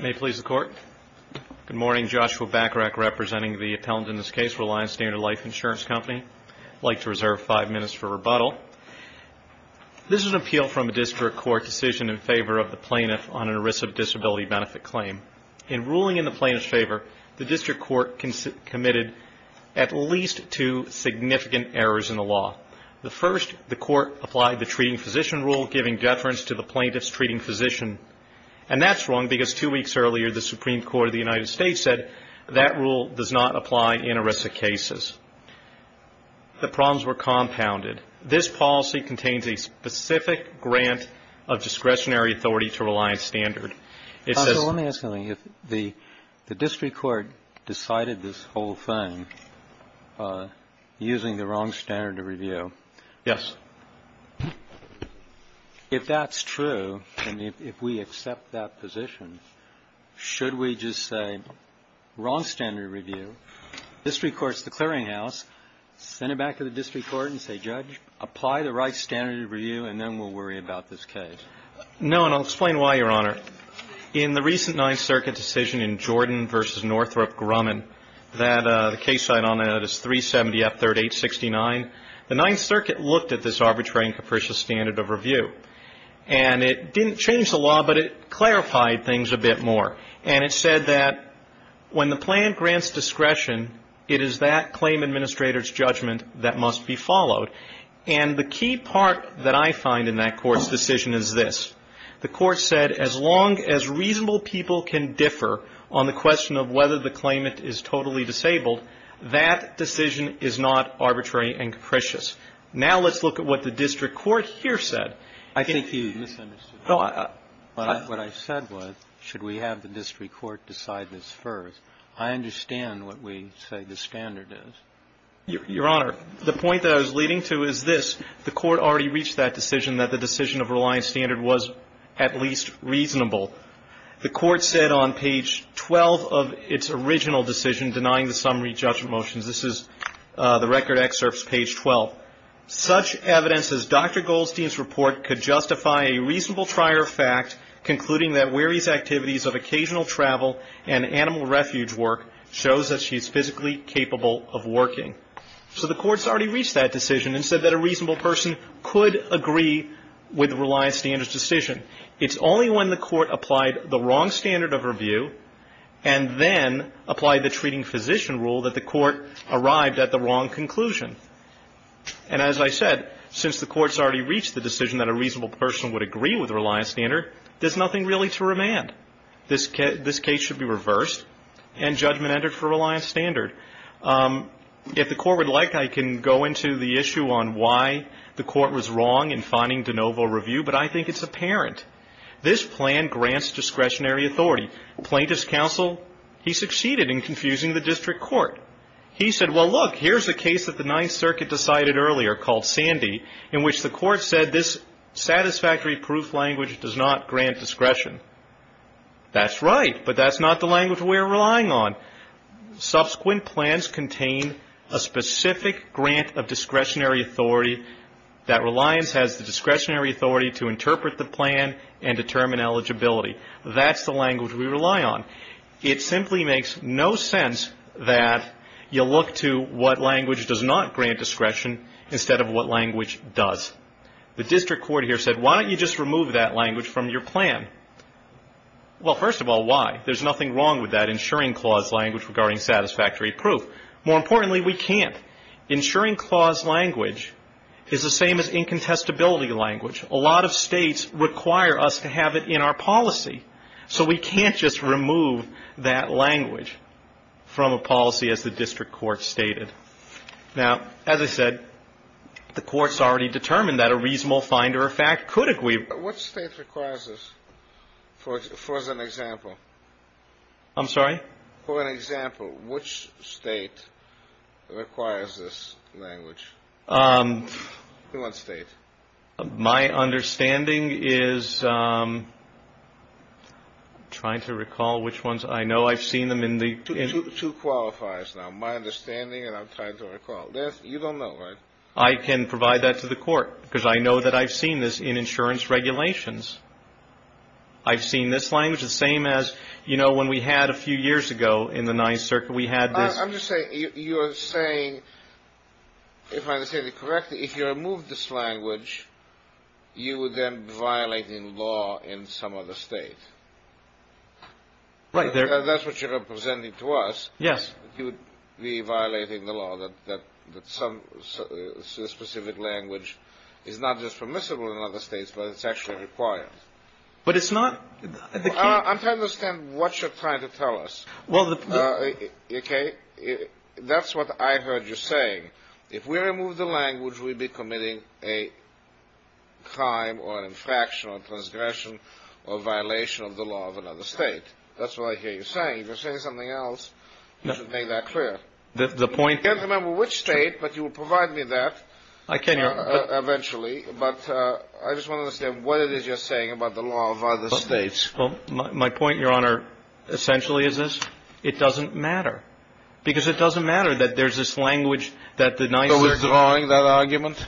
May it please the Court. Good morning. Joshua Bacharach representing the appellant in this case, Reliance Standard Life Insurance Company. I'd like to reserve five minutes for rebuttal. This is an appeal from a District Court decision in favor of the plaintiff on a risk of disability benefit claim. In ruling in the plaintiff's favor, the District Court committed at least two significant errors in the law. The first, the Court applied the treating physician rule, giving deference to the plaintiff's treating physician. And that's wrong because two weeks earlier, the Supreme Court of the United States said that rule does not apply in arrested cases. The problems were compounded. This policy contains a specific grant of discretionary authority to Reliance Standard. It says... So let me ask you something. If the District Court decided this whole thing using the wrong standard of review... Yes. If that's true, and if we accept that position, should we just say, wrong standard of review, District Court's the clearinghouse, send it back to the District Court and say, Judge, apply the right standard of review, and then we'll worry about this case? No, and I'll explain why, Your Honor. In the recent Ninth Circuit decision in Jordan v. Northrop Grumman, the case site on that is 370F3869, the Ninth Circuit looked at this arbitrary and capricious standard of review. And it didn't change the law, but it clarified things a bit more. And it said that when the plan grants discretion, it is that claim administrator's judgment that must be followed. And the key part that I find in that Court's decision is this. The Court said as long as reasonable people can differ on the question of whether the claimant is totally disabled, that decision is not arbitrary and capricious. Now let's look at what the District Court here said. I think you misunderstood. What I said was, should we have the District Court decide this first? I understand what we say the standard is. Your Honor, the point that I was leading to is this. The Court already reached that decision that the decision of reliance standard was at least reasonable. The Court said on page 12 of its original decision denying the summary judgment motions, this is the record excerpts page 12, such evidence as Dr. Goldstein's report could justify a reasonable trier of fact concluding that wary's activities of occasional travel and animal refuge work shows that she's physically capable of working. So the Court's already reached that decision and said that a reasonable person could agree with reliance standard's decision. It's only when the Court applied the wrong standard of review and then applied the treating physician rule that the Court arrived at the wrong conclusion. And as I said, since the Court's already reached the decision that a reasonable person would agree with reliance standard, there's nothing really to remand. This case should be reversed and judgment entered for reliance standard. If the Court would like, I can go into the issue on why the Court was wrong in finding de novo review, but I think it's apparent. This plan grants discretionary authority. Plaintiff's counsel, he succeeded in confusing the District Court. He said, well, look, here's a case that the Ninth Circuit decided earlier called Sandy in which the Court said this That's right, but that's not the language we're relying on. Subsequent plans contain a specific grant of discretionary authority that reliance has the discretionary authority to interpret the plan and determine eligibility. That's the language we rely on. It simply makes no sense that you look to what language does not grant discretion instead of what language does. The District Court here said, why don't you just remove that language from your plan? Well, first of all, why? There's nothing wrong with that ensuring clause language regarding satisfactory proof. More importantly, we can't. Ensuring clause language is the same as incontestability language. A lot of states require us to have it in our policy, so we can't just remove that language from a policy as the District Court stated. Now, as I said, the Court's already determined that a reasonable finder of fact could agree. But what state requires this? For as an example? I'm sorry? For an example, which state requires this language? Which one state? My understanding is trying to recall which ones. I know I've seen them in the two qualifiers. Now, my understanding and I'm trying to recall. You don't know, right? I can provide that to the Court because I know that I've seen this in insurance regulations. I've seen this language. The same as, you know, when we had a few years ago in the Ninth Circuit, we had this. I'm just saying you are saying, if I understand it correctly, if you remove this language, you would then violate the law in some other state. Right. That's what you're representing to us. Yes. You would be violating the law that some specific language is not just permissible in other states, but it's actually required. But it's not. I'm trying to understand what you're trying to tell us. Okay. That's what I heard you saying. If we remove the language, we'd be committing a crime or infraction or transgression or violation of the law of another state. That's what I hear you saying. If you're saying something else, you should make that clear. I can't remember which state, but you will provide me that eventually. But I just want to understand what it is you're saying about the law of other states. Well, my point, Your Honor, essentially is this. It doesn't matter. Because it doesn't matter that there's this language that the Ninth Circuit. Are you withdrawing that argument?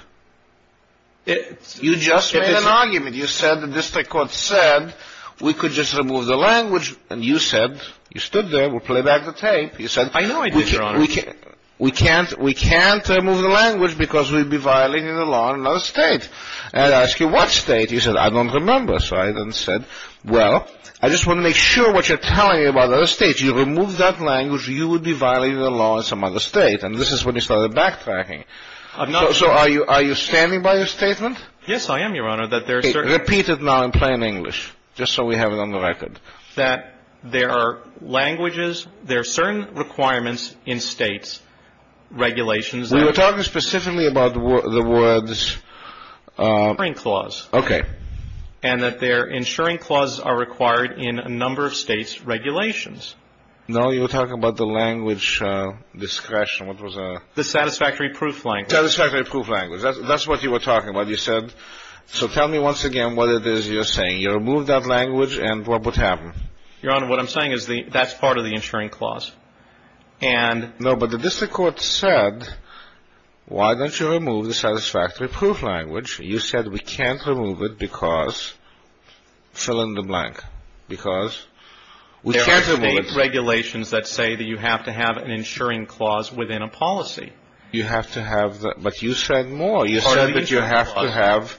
You just made an argument. You said the district court said we could just remove the language. And you said, you stood there, we'll play back the tape. I know I did, Your Honor. You said we can't remove the language because we'd be violating the law in another state. And I asked you what state. You said, I don't remember. So I then said, well, I just want to make sure that I understand what you're telling me about other states. You remove that language, you would be violating the law in some other state. And this is when you started backtracking. So are you standing by your statement? Yes, I am, Your Honor. Repeat it now in plain English, just so we have it on the record. That there are languages, there are certain requirements in states, regulations. Well, you're talking specifically about the words. Okay. And that their insuring clauses are required in a number of states' regulations. No, you were talking about the language discretion. What was that? The satisfactory proof language. Satisfactory proof language. That's what you were talking about. You said, so tell me once again what it is you're saying. You removed that language, and what would happen? Your Honor, what I'm saying is that's part of the insuring clause. No, but the district court said, why don't you remove the satisfactory proof language? You said, we can't remove it because, fill in the blank, because we can't remove it. There are state regulations that say that you have to have an insuring clause within a policy. You have to have that, but you said more. You said that you have to have,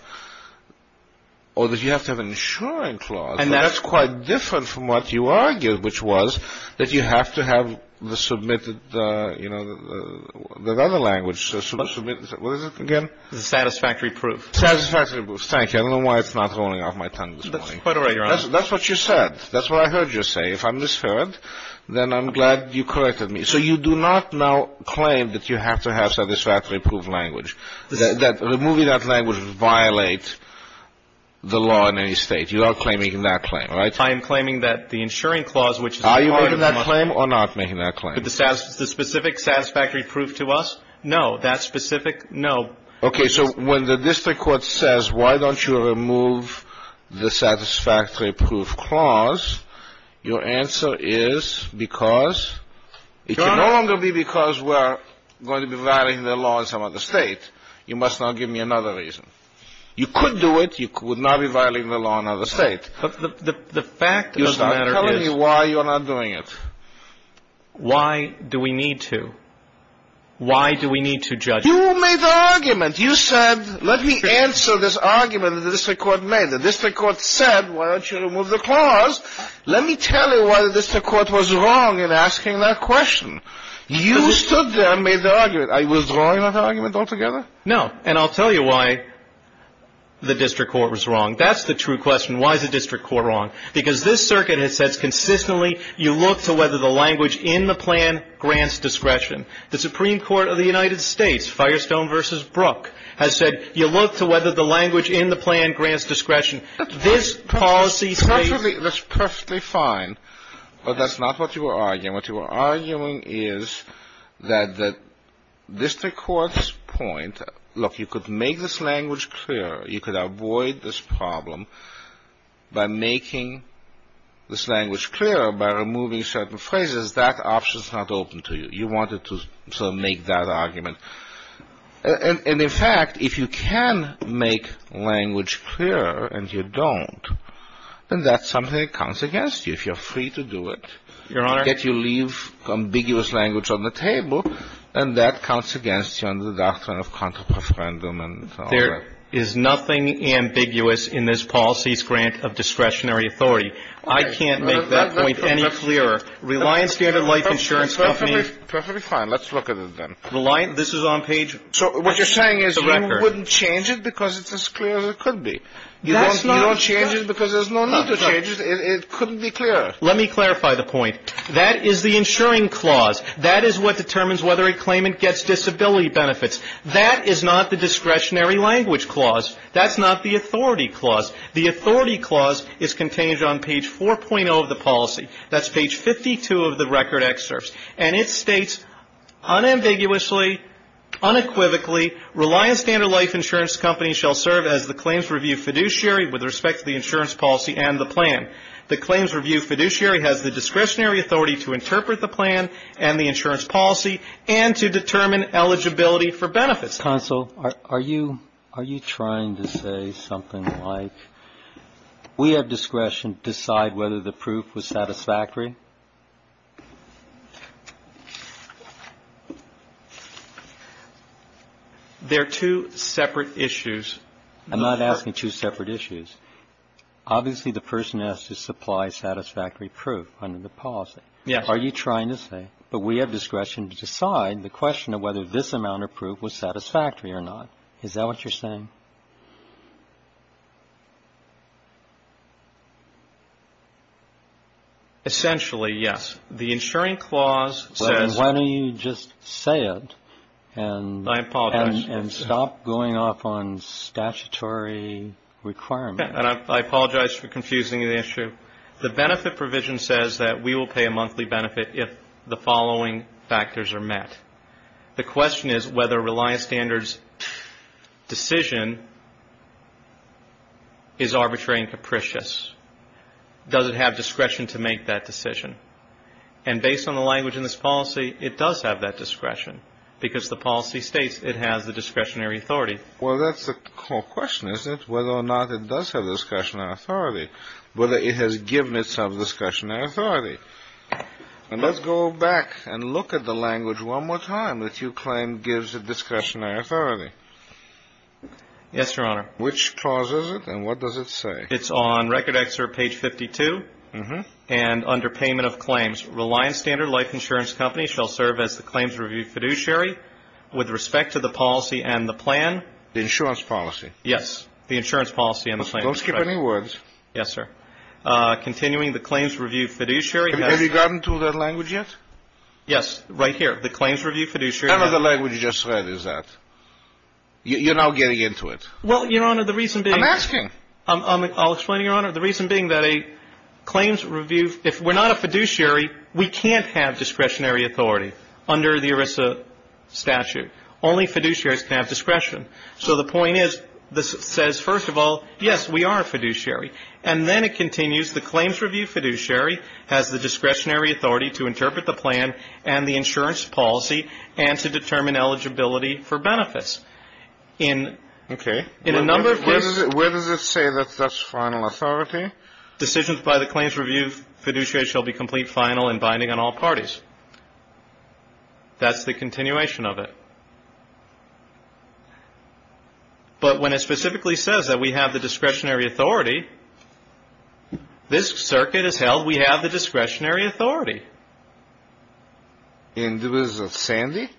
or that you have to have an insuring clause. And that's quite different from what you argued, which was that you have to have the submitted, you know, the other language. What is it again? The satisfactory proof. Satisfactory proof. Thank you. I don't know why it's not rolling off my tongue this morning. That's quite all right, Your Honor. That's what you said. That's what I heard you say. If I'm misheard, then I'm glad you corrected me. So you do not now claim that you have to have satisfactory proof language, that removing that language would violate the law in any State. You are claiming that claim, right? I am claiming that the insuring clause, which is a part of the money. Are you making that claim or not making that claim? The specific satisfactory proof to us? No. That specific? No. Okay. So when the district court says why don't you remove the satisfactory proof clause, your answer is because it can no longer be because we're going to be violating the law in some other State. You must now give me another reason. You could do it. You would not be violating the law in another State. But the fact of the matter is. Tell me why you're not doing it. Why do we need to? Why do we need to judge? You made the argument. You said let me answer this argument that the district court made. The district court said why don't you remove the clause. Let me tell you why the district court was wrong in asking that question. You stood there and made the argument. I was wrong in that argument altogether? No. And I'll tell you why the district court was wrong. That's the true question. Why is the district court wrong? Because this circuit has said consistently you look to whether the language in the plan grants discretion. The Supreme Court of the United States, Firestone v. Brook, has said you look to whether the language in the plan grants discretion. This policy states. That's perfectly fine. But that's not what you were arguing. What you were arguing is that the district court's point. Look, you could make this language clear. You could avoid this problem by making this language clear by removing certain phrases. That option is not open to you. You wanted to sort of make that argument. And, in fact, if you can make language clear and you don't, then that's something that counts against you if you're free to do it. Your Honor. Yet you leave ambiguous language on the table and that counts against you under the doctrine of counter-preferendum and all that. There is nothing ambiguous in this policy's grant of discretionary authority. I can't make that point any clearer. Reliant Standard Life Insurance Company. Perfectly fine. Let's look at it then. Reliant. This is on page. So what you're saying is we wouldn't change it because it's as clear as it could be. You don't change it because there's no need to change it. It couldn't be clearer. Let me clarify the point. That is the insuring clause. That is what determines whether a claimant gets disability benefits. That is not the discretionary language clause. That's not the authority clause. The authority clause is contained on page 4.0 of the policy. That's page 52 of the record excerpts. And it states unambiguously, unequivocally, Reliant Standard Life Insurance Company shall serve as the claims review fiduciary with respect to the insurance policy and the plan. The claims review fiduciary has the discretionary authority to interpret the plan and the insurance policy and to determine eligibility for benefits. Counsel, are you trying to say something like we have discretion to decide whether the proof was satisfactory? They're two separate issues. I'm not asking two separate issues. Obviously the person has to supply satisfactory proof under the policy. Yes. Are you trying to say, but we have discretion to decide the question of whether this amount of proof was satisfactory or not. Is that what you're saying? Essentially, yes. The insuring clause says. Why don't you just say it and. I apologize. And stop going off on statutory requirements. I apologize for confusing the issue. The benefit provision says that we will pay a monthly benefit if the following factors are met. The question is whether Reliant Standards decision is arbitrary and capricious. Does it have discretion to make that decision? And based on the language in this policy, it does have that discretion. Because the policy states it has the discretionary authority. Well, that's the whole question, is it? Whether or not it does have discretion and authority. Whether it has given itself discretionary authority. And let's go back and look at the language one more time that you claim gives a discretionary authority. Yes, Your Honor. Which clause is it and what does it say? It's on record excerpt page 52. And under payment of claims, Reliant Standard Life Insurance Company shall serve as the claims review fiduciary with respect to the policy and the plan. The insurance policy. Yes. The insurance policy and the plan. Don't skip any words. Yes, sir. Continuing the claims review fiduciary. Have you gotten to that language yet? Yes. Right here. The claims review fiduciary. How many of the language you just read is that? You're now getting into it. Well, Your Honor, the reason being. I'm asking. I'll explain, Your Honor. The reason being that a claims review, if we're not a fiduciary, we can't have discretionary authority under the ERISA statute. Only fiduciaries can have discretion. So the point is, this says, first of all, yes, we are a fiduciary. And then it continues. The claims review fiduciary has the discretionary authority to interpret the plan and the insurance policy and to determine eligibility for benefits. Okay. In a number of cases. Where does it say that that's final authority? Decisions by the claims review fiduciary shall be complete, final, and binding on all parties. That's the continuation of it. But when it specifically says that we have the discretionary authority, this circuit has held we have the discretionary authority. And there was a Sandy?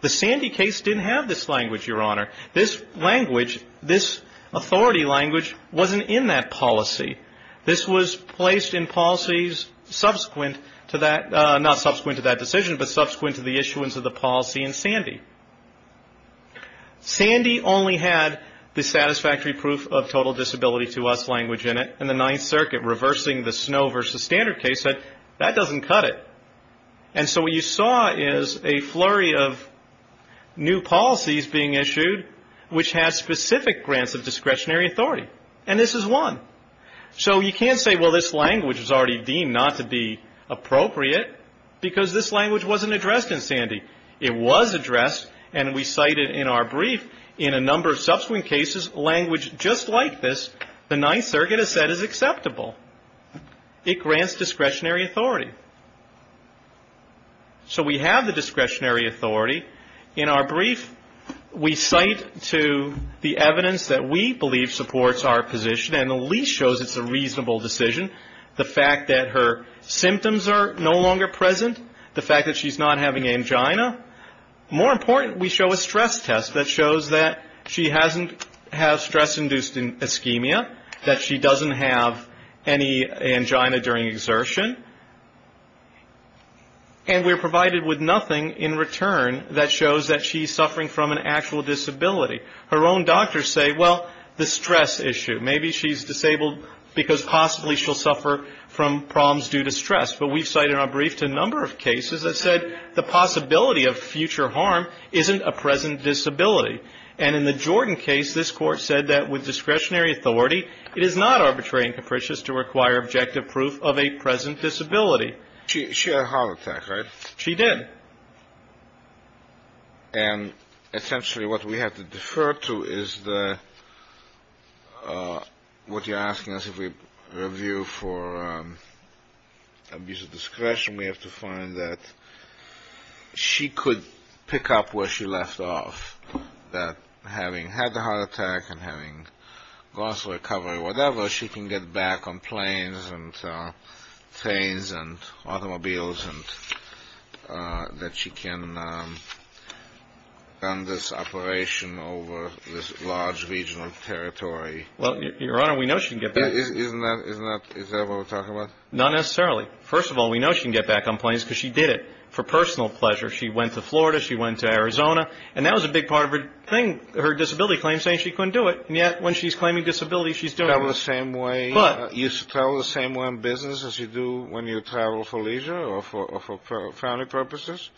The Sandy case didn't have this language, Your Honor. This language, this authority language, wasn't in that policy. This was placed in policies subsequent to that, not subsequent to that decision, but subsequent to the issuance of the policy in Sandy. Sandy only had the satisfactory proof of total disability to us language in it. And the Ninth Circuit, reversing the Snow v. Standard case, said that doesn't cut it. And so what you saw is a flurry of new policies being issued, which has specific grants of discretionary authority. And this is one. So you can't say, well, this language is already deemed not to be appropriate because this language wasn't addressed in Sandy. It was addressed, and we cited in our brief, in a number of subsequent cases, language just like this the Ninth Circuit has said is acceptable. It grants discretionary authority. So we have the discretionary authority. In our brief, we cite to the evidence that we believe supports our position, and at least shows it's a reasonable decision, the fact that her symptoms are no longer present, the fact that she's not having angina. More important, we show a stress test that shows that she hasn't had stress-induced ischemia, that she doesn't have any angina during exertion. And we're provided with nothing in return that shows that she's suffering from an actual disability. Her own doctors say, well, the stress issue. Maybe she's disabled because possibly she'll suffer from problems due to stress. But we've cited in our brief to a number of cases that said the possibility of future harm isn't a present disability. And in the Jordan case, this Court said that with discretionary authority, it is not arbitrary and capricious to require objective proof of a present disability. She had a heart attack, right? She did. And essentially what we have to defer to is what you're asking us if we review for abuse of discretion. We have to find that she could pick up where she left off, that having had the heart attack and having lost recovery, whatever, she can get back on planes and trains and automobiles and that she can run this operation over this large regional territory. Well, Your Honor, we know she can get back. Isn't that what we're talking about? Not necessarily. First of all, we know she can get back on planes because she did it for personal pleasure. She went to Florida. She went to Arizona. And that was a big part of her thing, her disability claim, saying she couldn't do it. And yet when she's claiming disability, she's doing it. Travel the same way. You travel the same way in business as you do when you travel for leisure or for family purposes?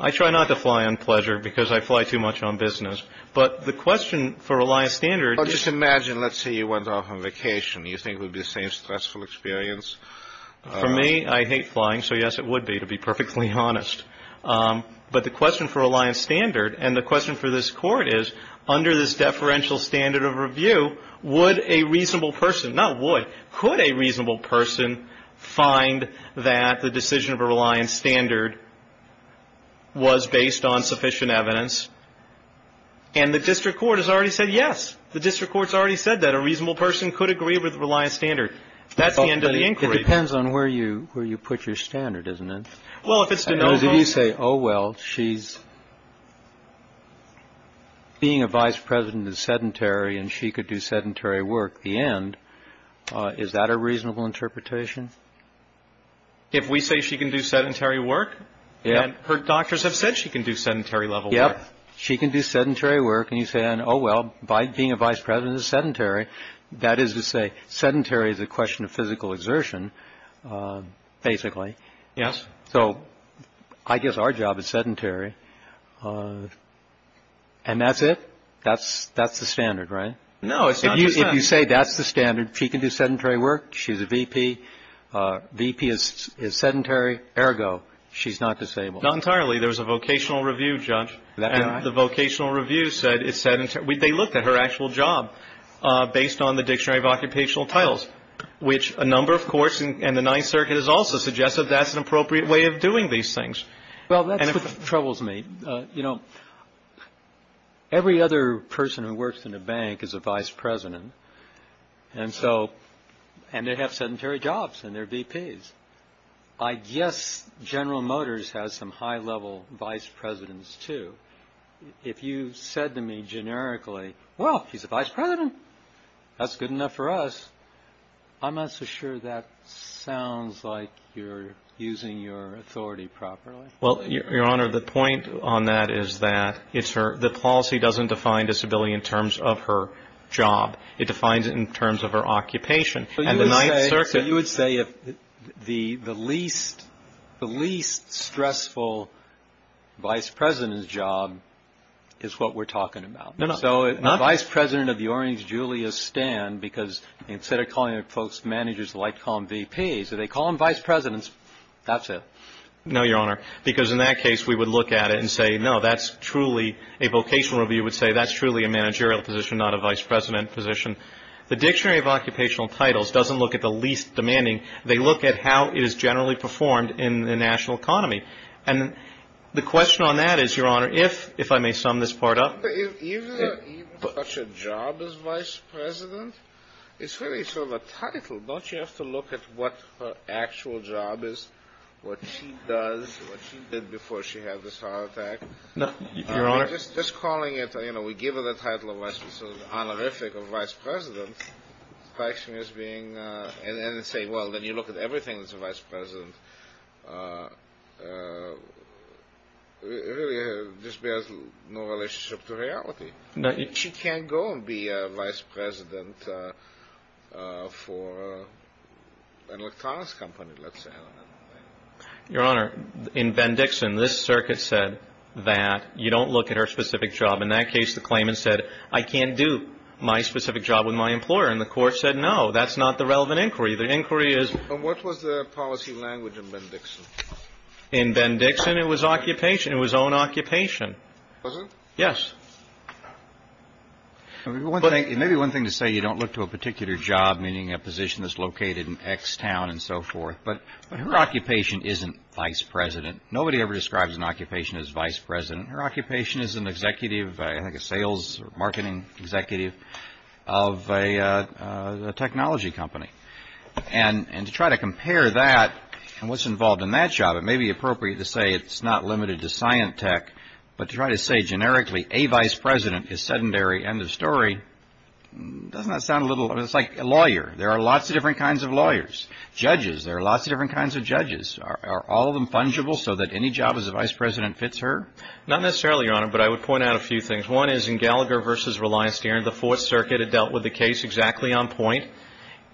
I try not to fly on pleasure because I fly too much on business. But the question for reliance standard is. Well, just imagine, let's say you went off on vacation. You think it would be the same stressful experience. For me, I hate flying. So, yes, it would be, to be perfectly honest. But the question for reliance standard and the question for this Court is, under this deferential standard of review, would a reasonable person, not would, could a reasonable person find that the decision of a reliance standard was based on sufficient evidence? And the district court has already said yes. The district court has already said that a reasonable person could agree with reliance standard. That's the end of the inquiry. It depends on where you put your standard, doesn't it? Well, if it's denoted. If you say, oh, well, she's being a vice president is sedentary and she could do sedentary work, the end, is that a reasonable interpretation? If we say she can do sedentary work. Yeah. Her doctors have said she can do sedentary level work. Yeah. She can do sedentary work. And you say, oh, well, being a vice president is sedentary. That is to say sedentary is a question of physical exertion, basically. Yes. So I guess our job is sedentary. And that's it. That's that's the standard, right? No, it's not. You say that's the standard. She can do sedentary work. She's a V.P. V.P. is sedentary. Ergo, she's not disabled. Not entirely. There was a vocational review judge. The vocational review said it said they looked at her actual job based on the dictionary of occupational titles, which a number, of course. And the Ninth Circuit has also suggested that's an appropriate way of doing these things. Well, that troubles me. You know, every other person who works in a bank is a vice president. And so and they have sedentary jobs and their V.P.'s. I guess General Motors has some high level vice presidents, too. If you said to me generically, well, he's a vice president. That's good enough for us. I'm not so sure that sounds like you're using your authority properly. Well, Your Honor, the point on that is that it's her the policy doesn't define disability in terms of her job. It defines it in terms of her occupation. And the Ninth Circuit. So you would say the least stressful vice president's job is what we're talking about. No, no. So vice president of the Orange Julius stand, because instead of calling folks managers, they like to call them V.P.'s. So they call them vice presidents. That's it. No, Your Honor. Because in that case we would look at it and say, no, that's truly a vocational review would say that's truly a managerial position, not a vice president position. The Dictionary of Occupational Titles doesn't look at the least demanding. They look at how it is generally performed in the national economy. And the question on that is, Your Honor, if I may sum this part up. Even such a job as vice president is really sort of a title. Don't you have to look at what her actual job is, what she does, what she did before she had this heart attack? No, Your Honor. Just calling it, you know, we give her the title of vice president, sort of honorific of vice president, and say, well, then you look at everything that's a vice president, it really just bears no relationship to reality. She can't go and be a vice president for an electronics company, let's say. Your Honor, in Ben Dixon, this circuit said that you don't look at her specific job. In that case, the claimant said, I can't do my specific job with my employer. And the court said, no, that's not the relevant inquiry. The inquiry is What was the policy language in Ben Dixon? In Ben Dixon, it was occupation. It was own occupation. Was it? Yes. Maybe one thing to say, you don't look to a particular job, meaning a position that's located in X town and so forth. But her occupation isn't vice president. Nobody ever describes an occupation as vice president. Her occupation is an executive, I think a sales or marketing executive of a technology company. And to try to compare that and what's involved in that job, it may be appropriate to say it's not limited to science tech. But to try to say generically, a vice president is sedentary. End of story. Doesn't that sound a little like a lawyer? There are lots of different kinds of lawyers. Judges, there are lots of different kinds of judges. Are all of them fungible so that any job as a vice president fits her? Not necessarily, Your Honor, but I would point out a few things. One is in Gallagher versus Reliance Steering, the Fourth Circuit had dealt with the case exactly on point.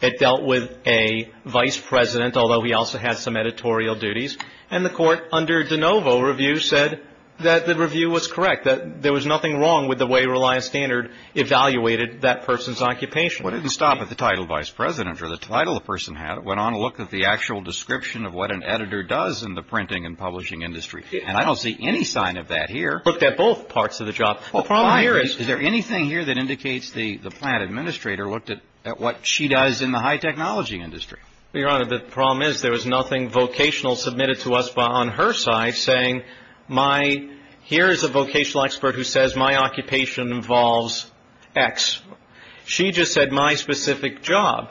It dealt with a vice president, although he also had some editorial duties, and the court under DeNovo Review said that the review was correct, that there was nothing wrong with the way Reliance Standard evaluated that person's occupation. Well, it didn't stop at the title vice president or the title the person had. It went on to look at the actual description of what an editor does in the printing and publishing industry. And I don't see any sign of that here. Looked at both parts of the job. Is there anything here that indicates the plant administrator looked at what she does in the high technology industry? Your Honor, the problem is there was nothing vocational submitted to us on her side saying my here is a vocational expert who says my occupation involves X. She just said my specific job.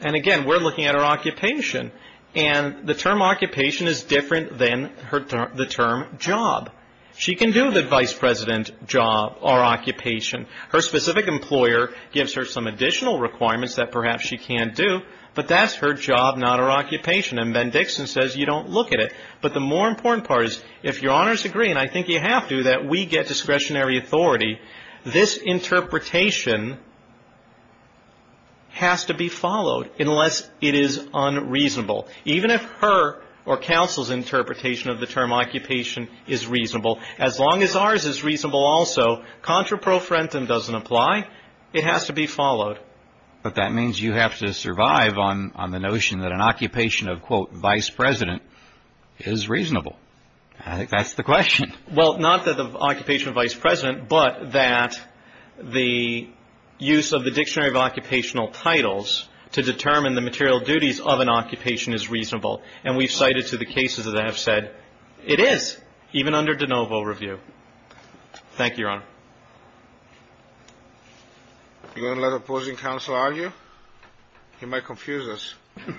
And again, we're looking at her occupation. And the term occupation is different than the term job. She can do the vice president job or occupation. Her specific employer gives her some additional requirements that perhaps she can't do, but that's her job, not her occupation. And Ben Dixon says you don't look at it. But the more important part is if Your Honors agree, and I think you have to, that we get discretionary authority, this interpretation has to be followed unless it is unreasonable. Even if her or counsel's interpretation of the term occupation is reasonable, as long as ours is reasonable also, contra pro frentem doesn't apply. It has to be followed. But that means you have to survive on the notion that an occupation of, quote, vice president is reasonable. I think that's the question. Well, not that the occupation of vice president, but that the use of the dictionary of occupational titles to determine the material duties of an occupation is reasonable. And we've cited to the cases that have said it is, even under de novo review. Thank you, Your Honor. You're going to let opposing counsel argue? He might confuse us. I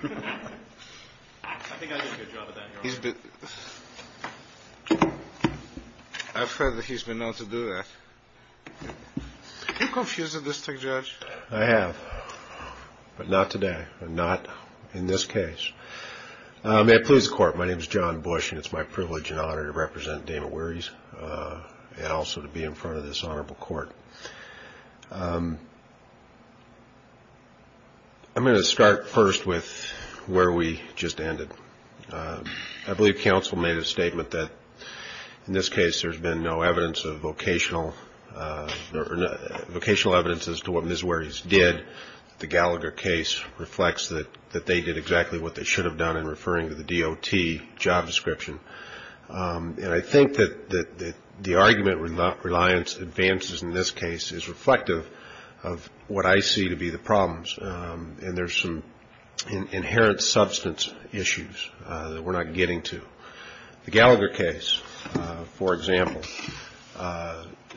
think I did a good job of that, Your Honor. I've heard that he's been known to do that. Have you confused the district judge? I have, but not today, but not in this case. May it please the Court, my name is John Bush, and it's my privilege and honor to represent Damon Wehry and also to be in front of this honorable court. I'm going to start first with where we just ended. I believe counsel made a statement that in this case there's been no evidence of vocational, or vocational evidence as to what Ms. Wehry's did. The Gallagher case reflects that they did exactly what they should have done in referring to the DOT job description. And I think that the argument Reliance advances in this case is reflective of what I see to be the problems, and there's some inherent substance issues that we're not getting to. The Gallagher case, for example,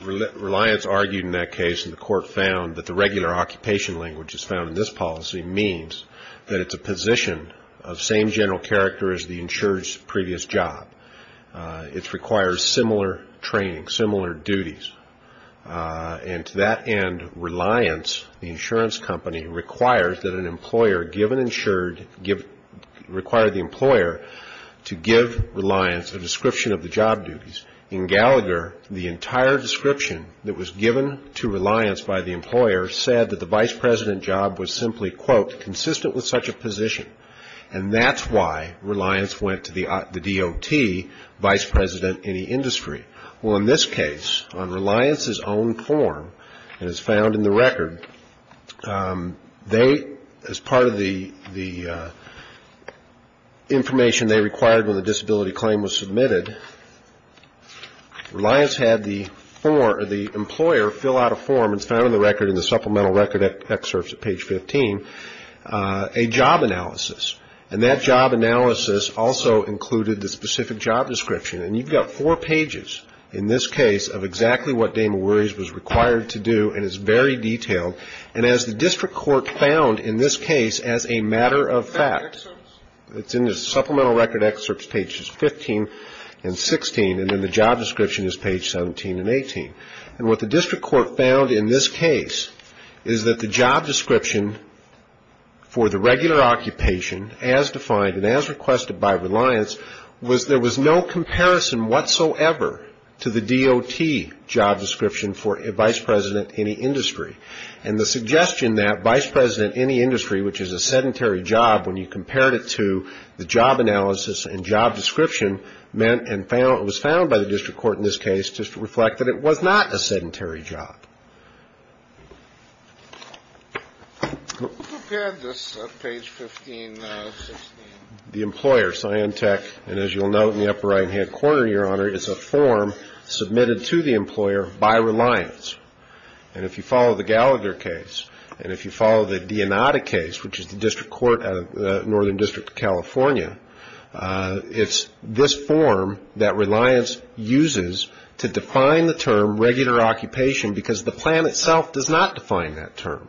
Reliance argued in that case, and the Court found that the regular occupation language as found in this policy means that it's a position of same general character as the insured's previous job. It requires similar training, similar duties. And to that end, Reliance, the insurance company, requires that an employer give an insured, require the employer to give Reliance a description of the job duties. In Gallagher, the entire description that was given to Reliance by the employer said that the vice president job was simply, quote, consistent with such a position. And that's why Reliance went to the DOT vice president in the industry. Well, in this case, on Reliance's own form that is found in the record, they, as part of the information they required when the disability claim was submitted, Reliance had the employer fill out a form that's found in the record in the supplemental record excerpts at page 15, a job analysis. And that job analysis also included the specific job description. And you've got four pages in this case of exactly what Damon Worries was required to do, and it's very detailed. And as the district court found in this case as a matter of fact, it's in the supplemental record excerpts, pages 15 and 16, and then the job description is page 17 and 18. And what the district court found in this case is that the job description for the regular occupation as defined and as requested by Reliance was there was no comparison whatsoever to the DOT job description for a vice president in the industry. And the suggestion that vice president in the industry, which is a sedentary job when you compared it to the job analysis and job description, meant and was found by the district court in this case to reflect that it was not a sedentary job. Who prepared this page 15, 16? The employer, Scion Tech. And as you'll note in the upper right-hand corner, Your Honor, it's a form submitted to the employer by Reliance. And if you follow the Gallagher case and if you follow the Dionata case, which is the district court of Northern District of California, it's this form that Reliance uses to define the term regular occupation because the plan itself does not define that term.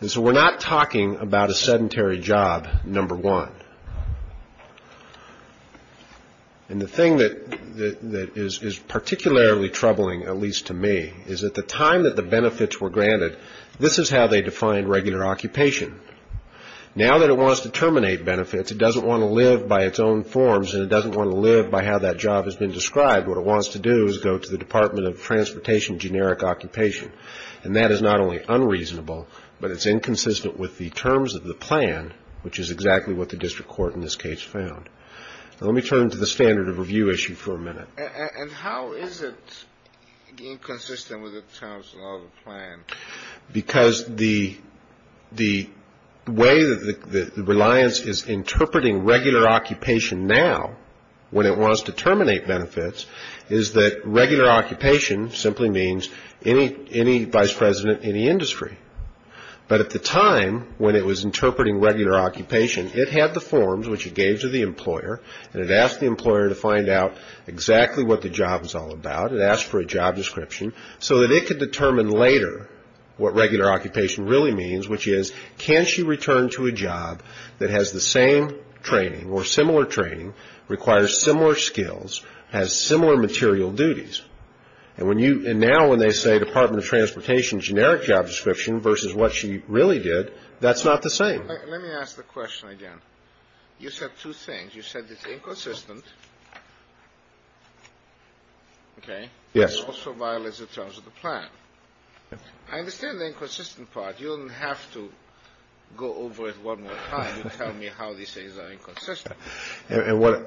And so we're not talking about a sedentary job, number one. And the thing that is particularly troubling, at least to me, is at the time that the benefits were granted, this is how they defined regular occupation. Now that it wants to terminate benefits, it doesn't want to live by its own forms and it doesn't want to live by how that job has been described. What it wants to do is go to the Department of Transportation generic occupation. And that is not only unreasonable, but it's inconsistent with the terms of the plan, which is exactly what the district court in this case found. Now let me turn to the standard of review issue for a minute. And how is it inconsistent with the terms of the plan? Because the way that Reliance is interpreting regular occupation now, when it wants to terminate benefits, is that regular occupation simply means any vice president in the industry. But at the time when it was interpreting regular occupation, it had the forms, which it gave to the employer, and it asked the employer to find out exactly what the job was all about. It asked for a job description so that it could determine later what regular occupation really means, which is can she return to a job that has the same training or similar training, requires similar skills, has similar material duties. And now when they say Department of Transportation generic job description versus what she really did, that's not the same. Let me ask the question again. You said two things. You said it's inconsistent, okay, but also violates the terms of the plan. I understand the inconsistent part. You don't have to go over it one more time to tell me how these things are inconsistent. This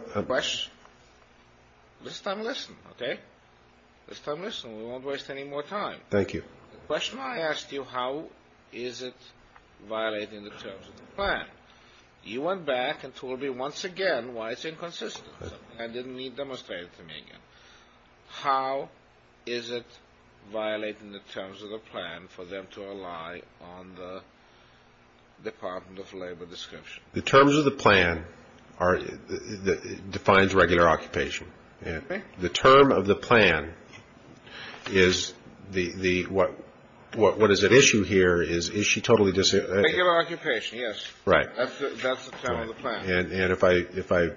time listen, okay? This time listen. We won't waste any more time. Thank you. The question I asked you, how is it violating the terms of the plan? You went back and told me once again why it's inconsistent. I didn't need to demonstrate it to me again. How is it violating the terms of the plan for them to rely on the Department of Labor description? The terms of the plan defines regular occupation. The term of the plan is what is at issue here is is she totally dis- Regular occupation, yes. Right. That's the term of the plan. And if I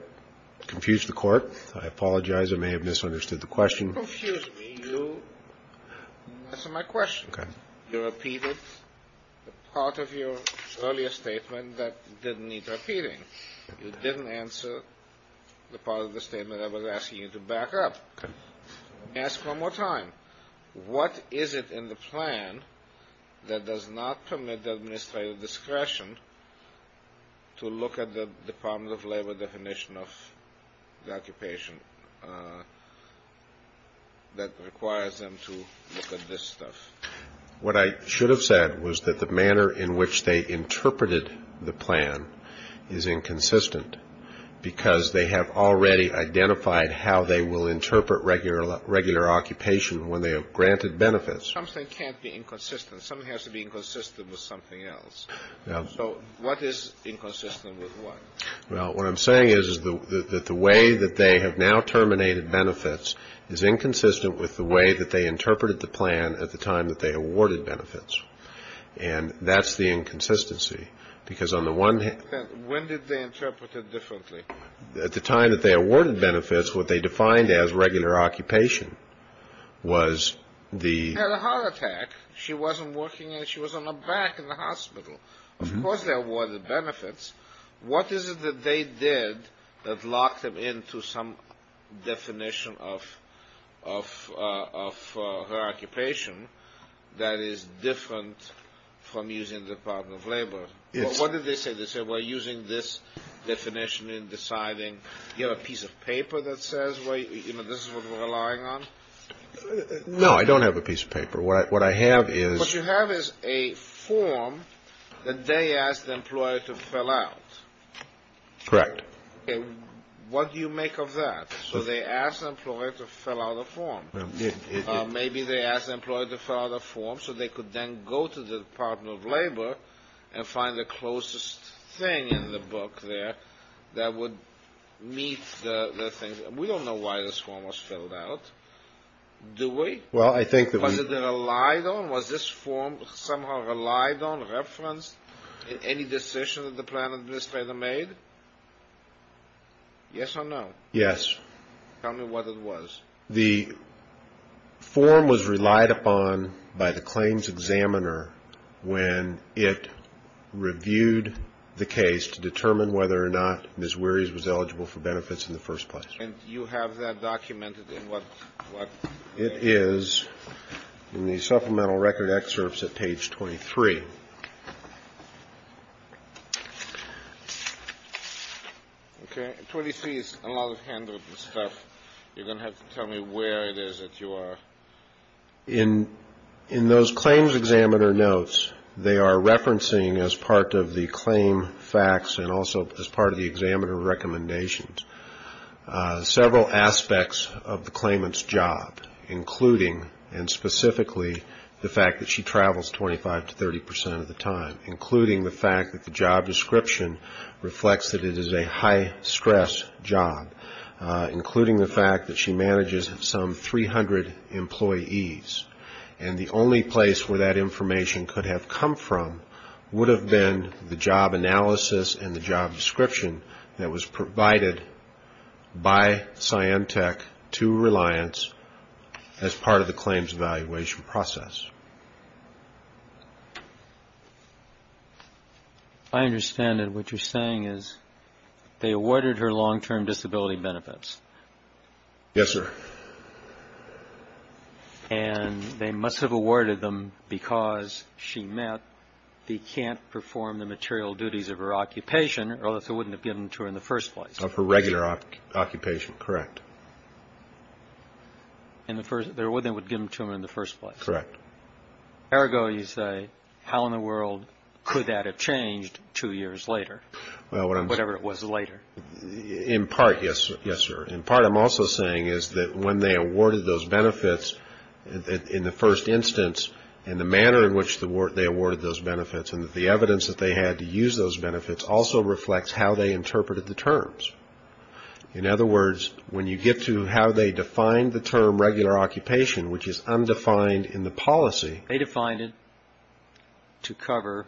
confuse the court, I apologize. I may have misunderstood the question. Don't confuse me. You answered my question. You repeated part of your earlier statement that didn't need repeating. You didn't answer the part of the statement I was asking you to back up. Ask one more time. What is it in the plan that does not permit the administrative discretion to look at the Department of Labor definition of the occupation that requires them to look at this stuff? What I should have said was that the manner in which they interpreted the plan is inconsistent because they have already identified how they will interpret regular occupation when they have granted benefits. Something can't be inconsistent. Something has to be inconsistent with something else. So what is inconsistent with what? Well, what I'm saying is that the way that they have now terminated benefits is inconsistent with the way that they interpreted the plan at the time that they awarded benefits. And that's the inconsistency because on the one hand- When did they interpret it differently? At the time that they awarded benefits, what they defined as regular occupation was the- She had a heart attack. She wasn't working. She was on her back in the hospital. Of course they awarded benefits. What is it that they did that locked them into some definition of her occupation that is different from using the Department of Labor? What did they say? They said we're using this definition in deciding- Do you have a piece of paper that says this is what we're relying on? No, I don't have a piece of paper. What I have is- Correct. What do you make of that? So they asked the employer to fill out a form. Maybe they asked the employer to fill out a form so they could then go to the Department of Labor and find the closest thing in the book there that would meet the thing. We don't know why this form was filled out, do we? Well, I think that we- Was this form somehow relied on, referenced in any decision that the plan administrator made? Yes or no? Yes. Tell me what it was. The form was relied upon by the claims examiner when it reviewed the case to determine whether or not Ms. Wearies was eligible for benefits in the first place. And you have that documented in what- It is in the supplemental record excerpts at page 23. Okay. 23 is a lot of handwritten stuff. You're going to have to tell me where it is that you are. In those claims examiner notes, they are referencing, as part of the claim facts and also as part of the examiner recommendations, several aspects of the claimant's job, including and specifically the fact that she travels 25 to 30 percent of the time, including the fact that the job description reflects that it is a high-stress job, including the fact that she manages some 300 employees. And the only place where that information could have come from would have been the job analysis and the job description that was provided by Cyantech to Reliance as part of the claims evaluation process. I understand that what you're saying is they awarded her long-term disability benefits. Yes, sir. And they must have awarded them because she met the can't-perform-the-material-duties-of-her-occupation, or else they wouldn't have given them to her in the first place. Of her regular occupation. Correct. They wouldn't have given them to her in the first place. Correct. Ergo, you say, how in the world could that have changed two years later, whatever it was later? In part, yes, sir. In part, I'm also saying is that when they awarded those benefits in the first instance, and the manner in which they awarded those benefits and the evidence that they had to use those benefits also reflects how they interpreted the terms. In other words, when you get to how they defined the term regular occupation, which is undefined in the policy. They defined it to cover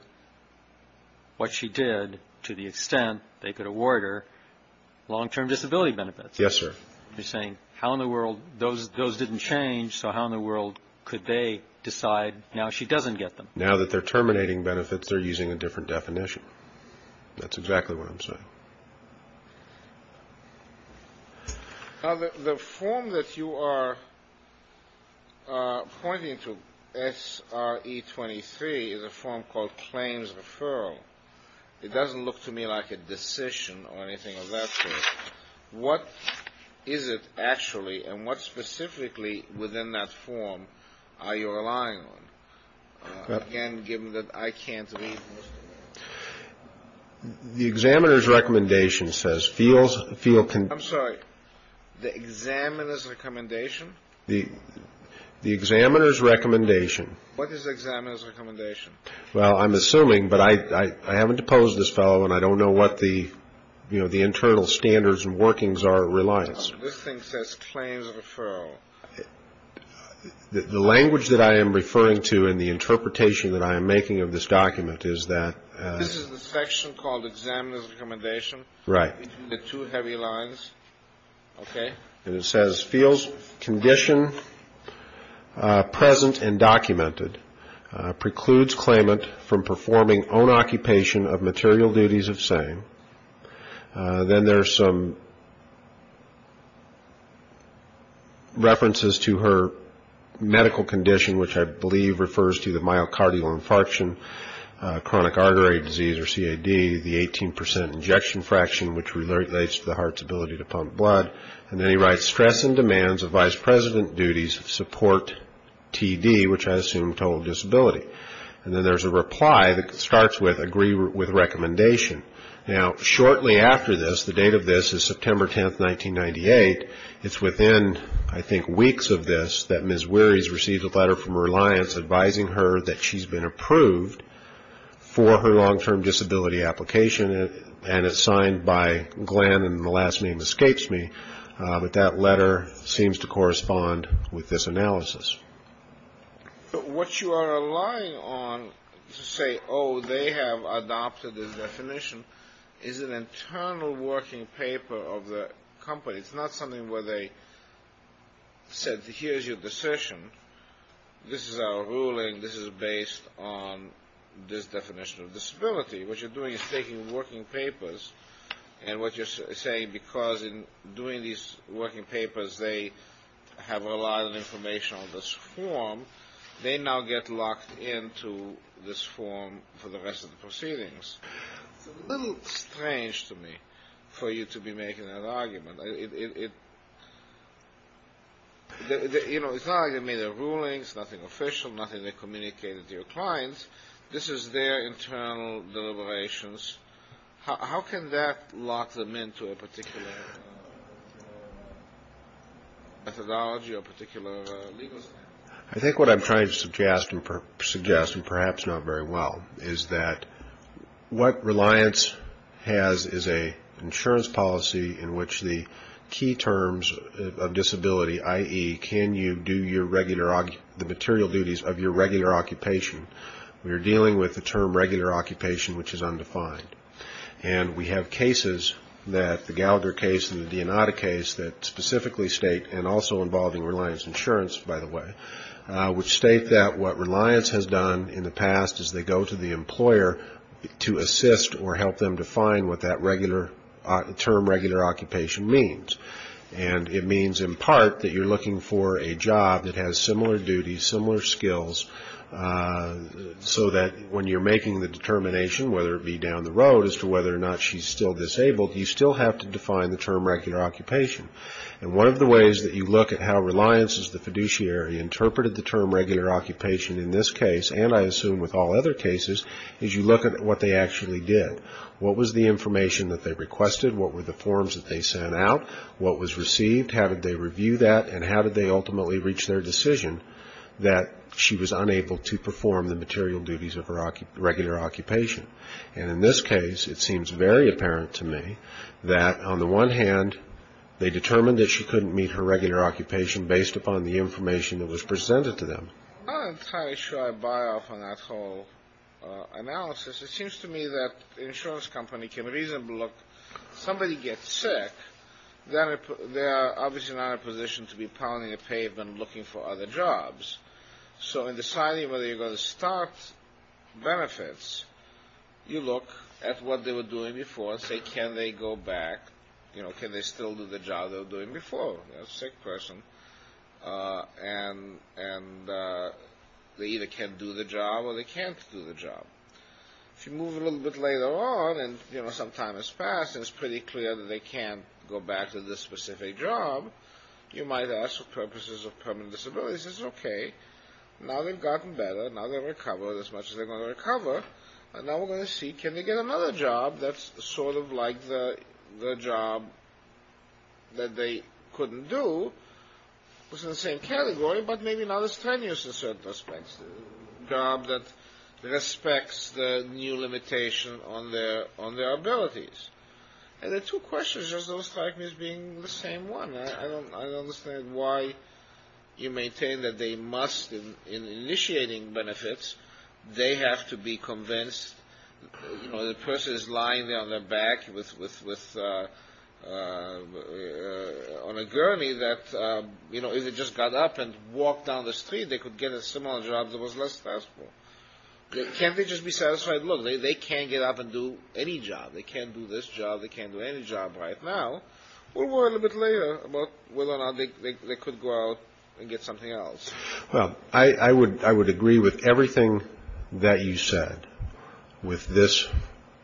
what she did to the extent they could award her long-term disability benefits. Yes, sir. You're saying how in the world those didn't change, so how in the world could they decide now she doesn't get them? Now that they're terminating benefits, they're using a different definition. That's exactly what I'm saying. Now, the form that you are pointing to, SRE23, is a form called claims referral. It doesn't look to me like a decision or anything of that sort. What is it actually, and what specifically within that form are you relying on? Again, given that I can't read most of it. The examiner's recommendation says feel concerned. I'm sorry. The examiner's recommendation? What is the examiner's recommendation? Well, I'm assuming, but I haven't deposed this fellow and I don't know what the internal standards and workings are at Reliance. This thing says claims referral. The language that I am referring to in the interpretation that I am making of this document is that. This is the section called examiner's recommendation. Right. The two heavy lines. Okay. And it says feels condition present and documented precludes claimant from performing own occupation of material duties of same. Then there are some references to her medical condition, which I believe refers to the myocardial infarction, chronic artery disease, or CAD, the 18% injection fraction, which relates to the heart's ability to pump blood. And then he writes stress and demands of vice president duties support TD, which I assume total disability. And then there's a reply that starts with agree with recommendation. Now, shortly after this, the date of this is September 10th, 1998. It's within, I think, weeks of this that Ms. Weary's received a letter from Reliance advising her that she's been approved for her long-term disability application. And it's signed by Glenn and the last name escapes me. But that letter seems to correspond with this analysis. What you are relying on to say, oh, they have adopted this definition is an internal working paper of the company. It's not something where they said, here's your decision. This is our ruling. This is based on this definition of disability. What you're doing is taking working papers. And what you're saying, because in doing these working papers, they have a lot of information on this form. They now get locked into this form for the rest of the proceedings. It's a little strange to me for you to be making that argument. You know, it's not, I mean, a ruling. It's nothing official, nothing they communicated to your clients. This is their internal deliberations. How can that lock them into a particular methodology or particular legal? I think what I'm trying to suggest, and perhaps not very well, is that what Reliance has is an insurance policy in which the key terms of disability, i.e., can you do the material duties of your regular occupation. We are dealing with the term regular occupation, which is undefined. And we have cases that, the Gallagher case and the Dionata case, that specifically state, and also involving Reliance Insurance, by the way, which state that what Reliance has done in the past is they go to the employer to assist or help them define what that term regular occupation means. And it means in part that you're looking for a job that has similar duties, similar skills, so that when you're making the determination, whether it be down the road as to whether or not she's still disabled, you still have to define the term regular occupation. And one of the ways that you look at how Reliance as the fiduciary interpreted the term regular occupation in this case, and I assume with all other cases, is you look at what they actually did. What was the information that they requested? What were the forms that they sent out? What was received? How did they review that? And how did they ultimately reach their decision that she was unable to perform the material duties of her regular occupation? And in this case, it seems very apparent to me that, on the one hand, they determined that she couldn't meet her regular occupation based upon the information that was presented to them. I'm not entirely sure I buy off on that whole analysis. It seems to me that the insurance company can reasonably look, if somebody gets sick, they're obviously not in a position to be pounding the pavement looking for other jobs. So in deciding whether you're going to start benefits, you look at what they were doing before and say, can they go back, can they still do the job they were doing before? They're a sick person, and they either can't do the job or they can't do the job. If you move a little bit later on, and some time has passed, and it's pretty clear that they can't go back to this specific job, you might ask for purposes of permanent disabilities. It's okay. Now they've gotten better. Now they've recovered as much as they're going to recover. And now we're going to see, can they get another job that's sort of like the job that they couldn't do? It's in the same category, but maybe not as tenuous in certain respects. A job that respects the new limitation on their abilities. And the two questions are sort of like being the same one. I don't understand why you maintain that they must, in initiating benefits, they have to be convinced that the person is lying on their back on a gurney, that if they just got up and walked down the street, they could get a similar job that was less stressful. Can't they just be satisfied, look, they can't get up and do any job. They can't do this job. They can't do any job right now. We'll worry a little bit later about whether or not they could go out and get something else. Well, I would agree with everything that you said with this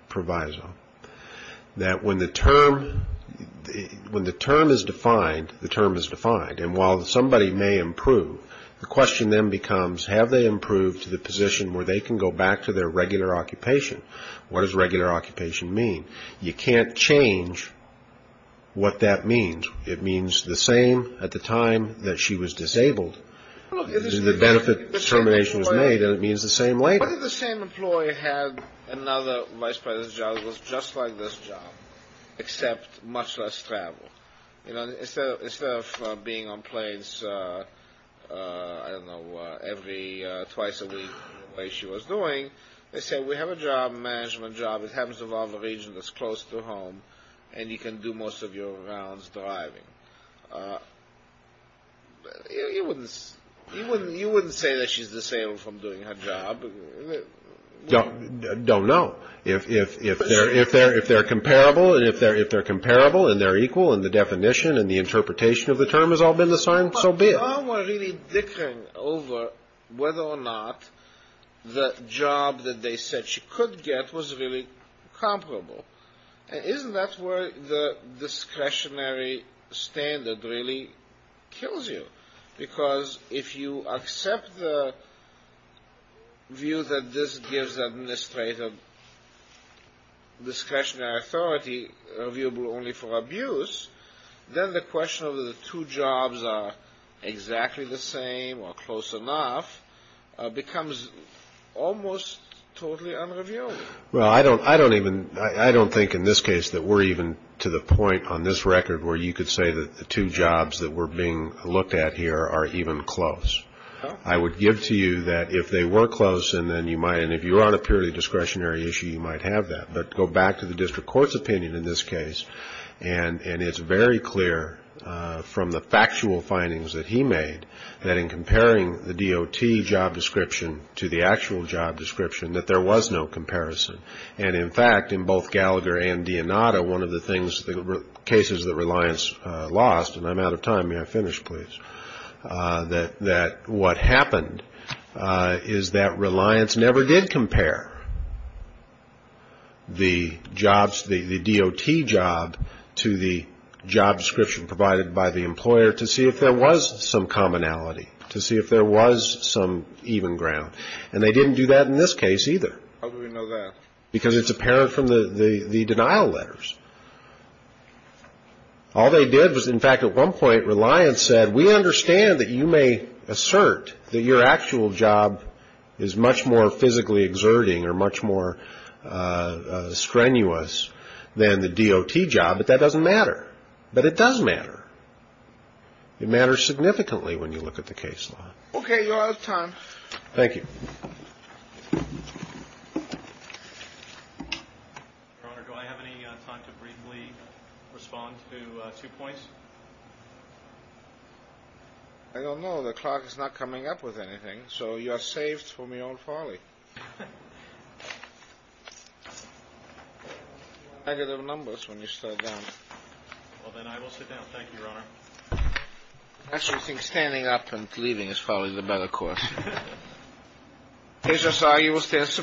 proviso, that when the term is defined, the term is defined. And while somebody may improve, the question then becomes, have they improved to the position where they can go back to their regular occupation? What does regular occupation mean? You can't change what that means. It means the same at the time that she was disabled. The benefit determination was made, and it means the same later. What if the same employee had another vice president's job that was just like this job, except much less travel? You know, instead of being on planes, I don't know, every twice a week the way she was doing, they said we have a job, a management job that happens to be in a region that's close to home, and you can do most of your rounds driving. You wouldn't say that she's disabled from doing her job. Don't know. If they're comparable and they're equal in the definition and the interpretation of the term has all been assigned, so be it. But they all were really dickering over whether or not the job that they said she could get was really comparable. Isn't that where the discretionary standard really kills you? Because if you accept the view that this gives administrative discretionary authority reviewable only for abuse, then the question of the two jobs are exactly the same or close enough becomes almost totally unreviewable. Well, I don't think in this case that we're even to the point on this record where you could say that the two jobs that were being looked at here are even close. I would give to you that if they were close and then you might, and if you're on a purely discretionary issue, you might have that. But go back to the district court's opinion in this case, and it's very clear from the factual findings that he made that in comparing the DOT job description to the actual job description, that there was no comparison. And, in fact, in both Gallagher and Dionato, one of the things, the cases that Reliance lost, and I'm out of time, may I finish, please, that what happened is that Reliance never did compare the jobs, the DOT job to the job description provided by the employer to see if there was some commonality, to see if there was some even ground. And they didn't do that in this case either. How do we know that? Because it's apparent from the denial letters. All they did was, in fact, at one point Reliance said, we understand that you may assert that your actual job is much more physically exerting or much more strenuous than the DOT job, but that doesn't matter. But it does matter. It matters significantly when you look at the case law. Okay. You're out of time. Thank you. Your Honor, do I have any time to briefly respond to two points? I don't know. The clock is not coming up with anything. So you are saved from your own folly. Negative numbers when you start down. Well, then I will sit down. Thank you, Your Honor. I actually think standing up and leaving is probably the better course. Judge Asagi will stand for a minute.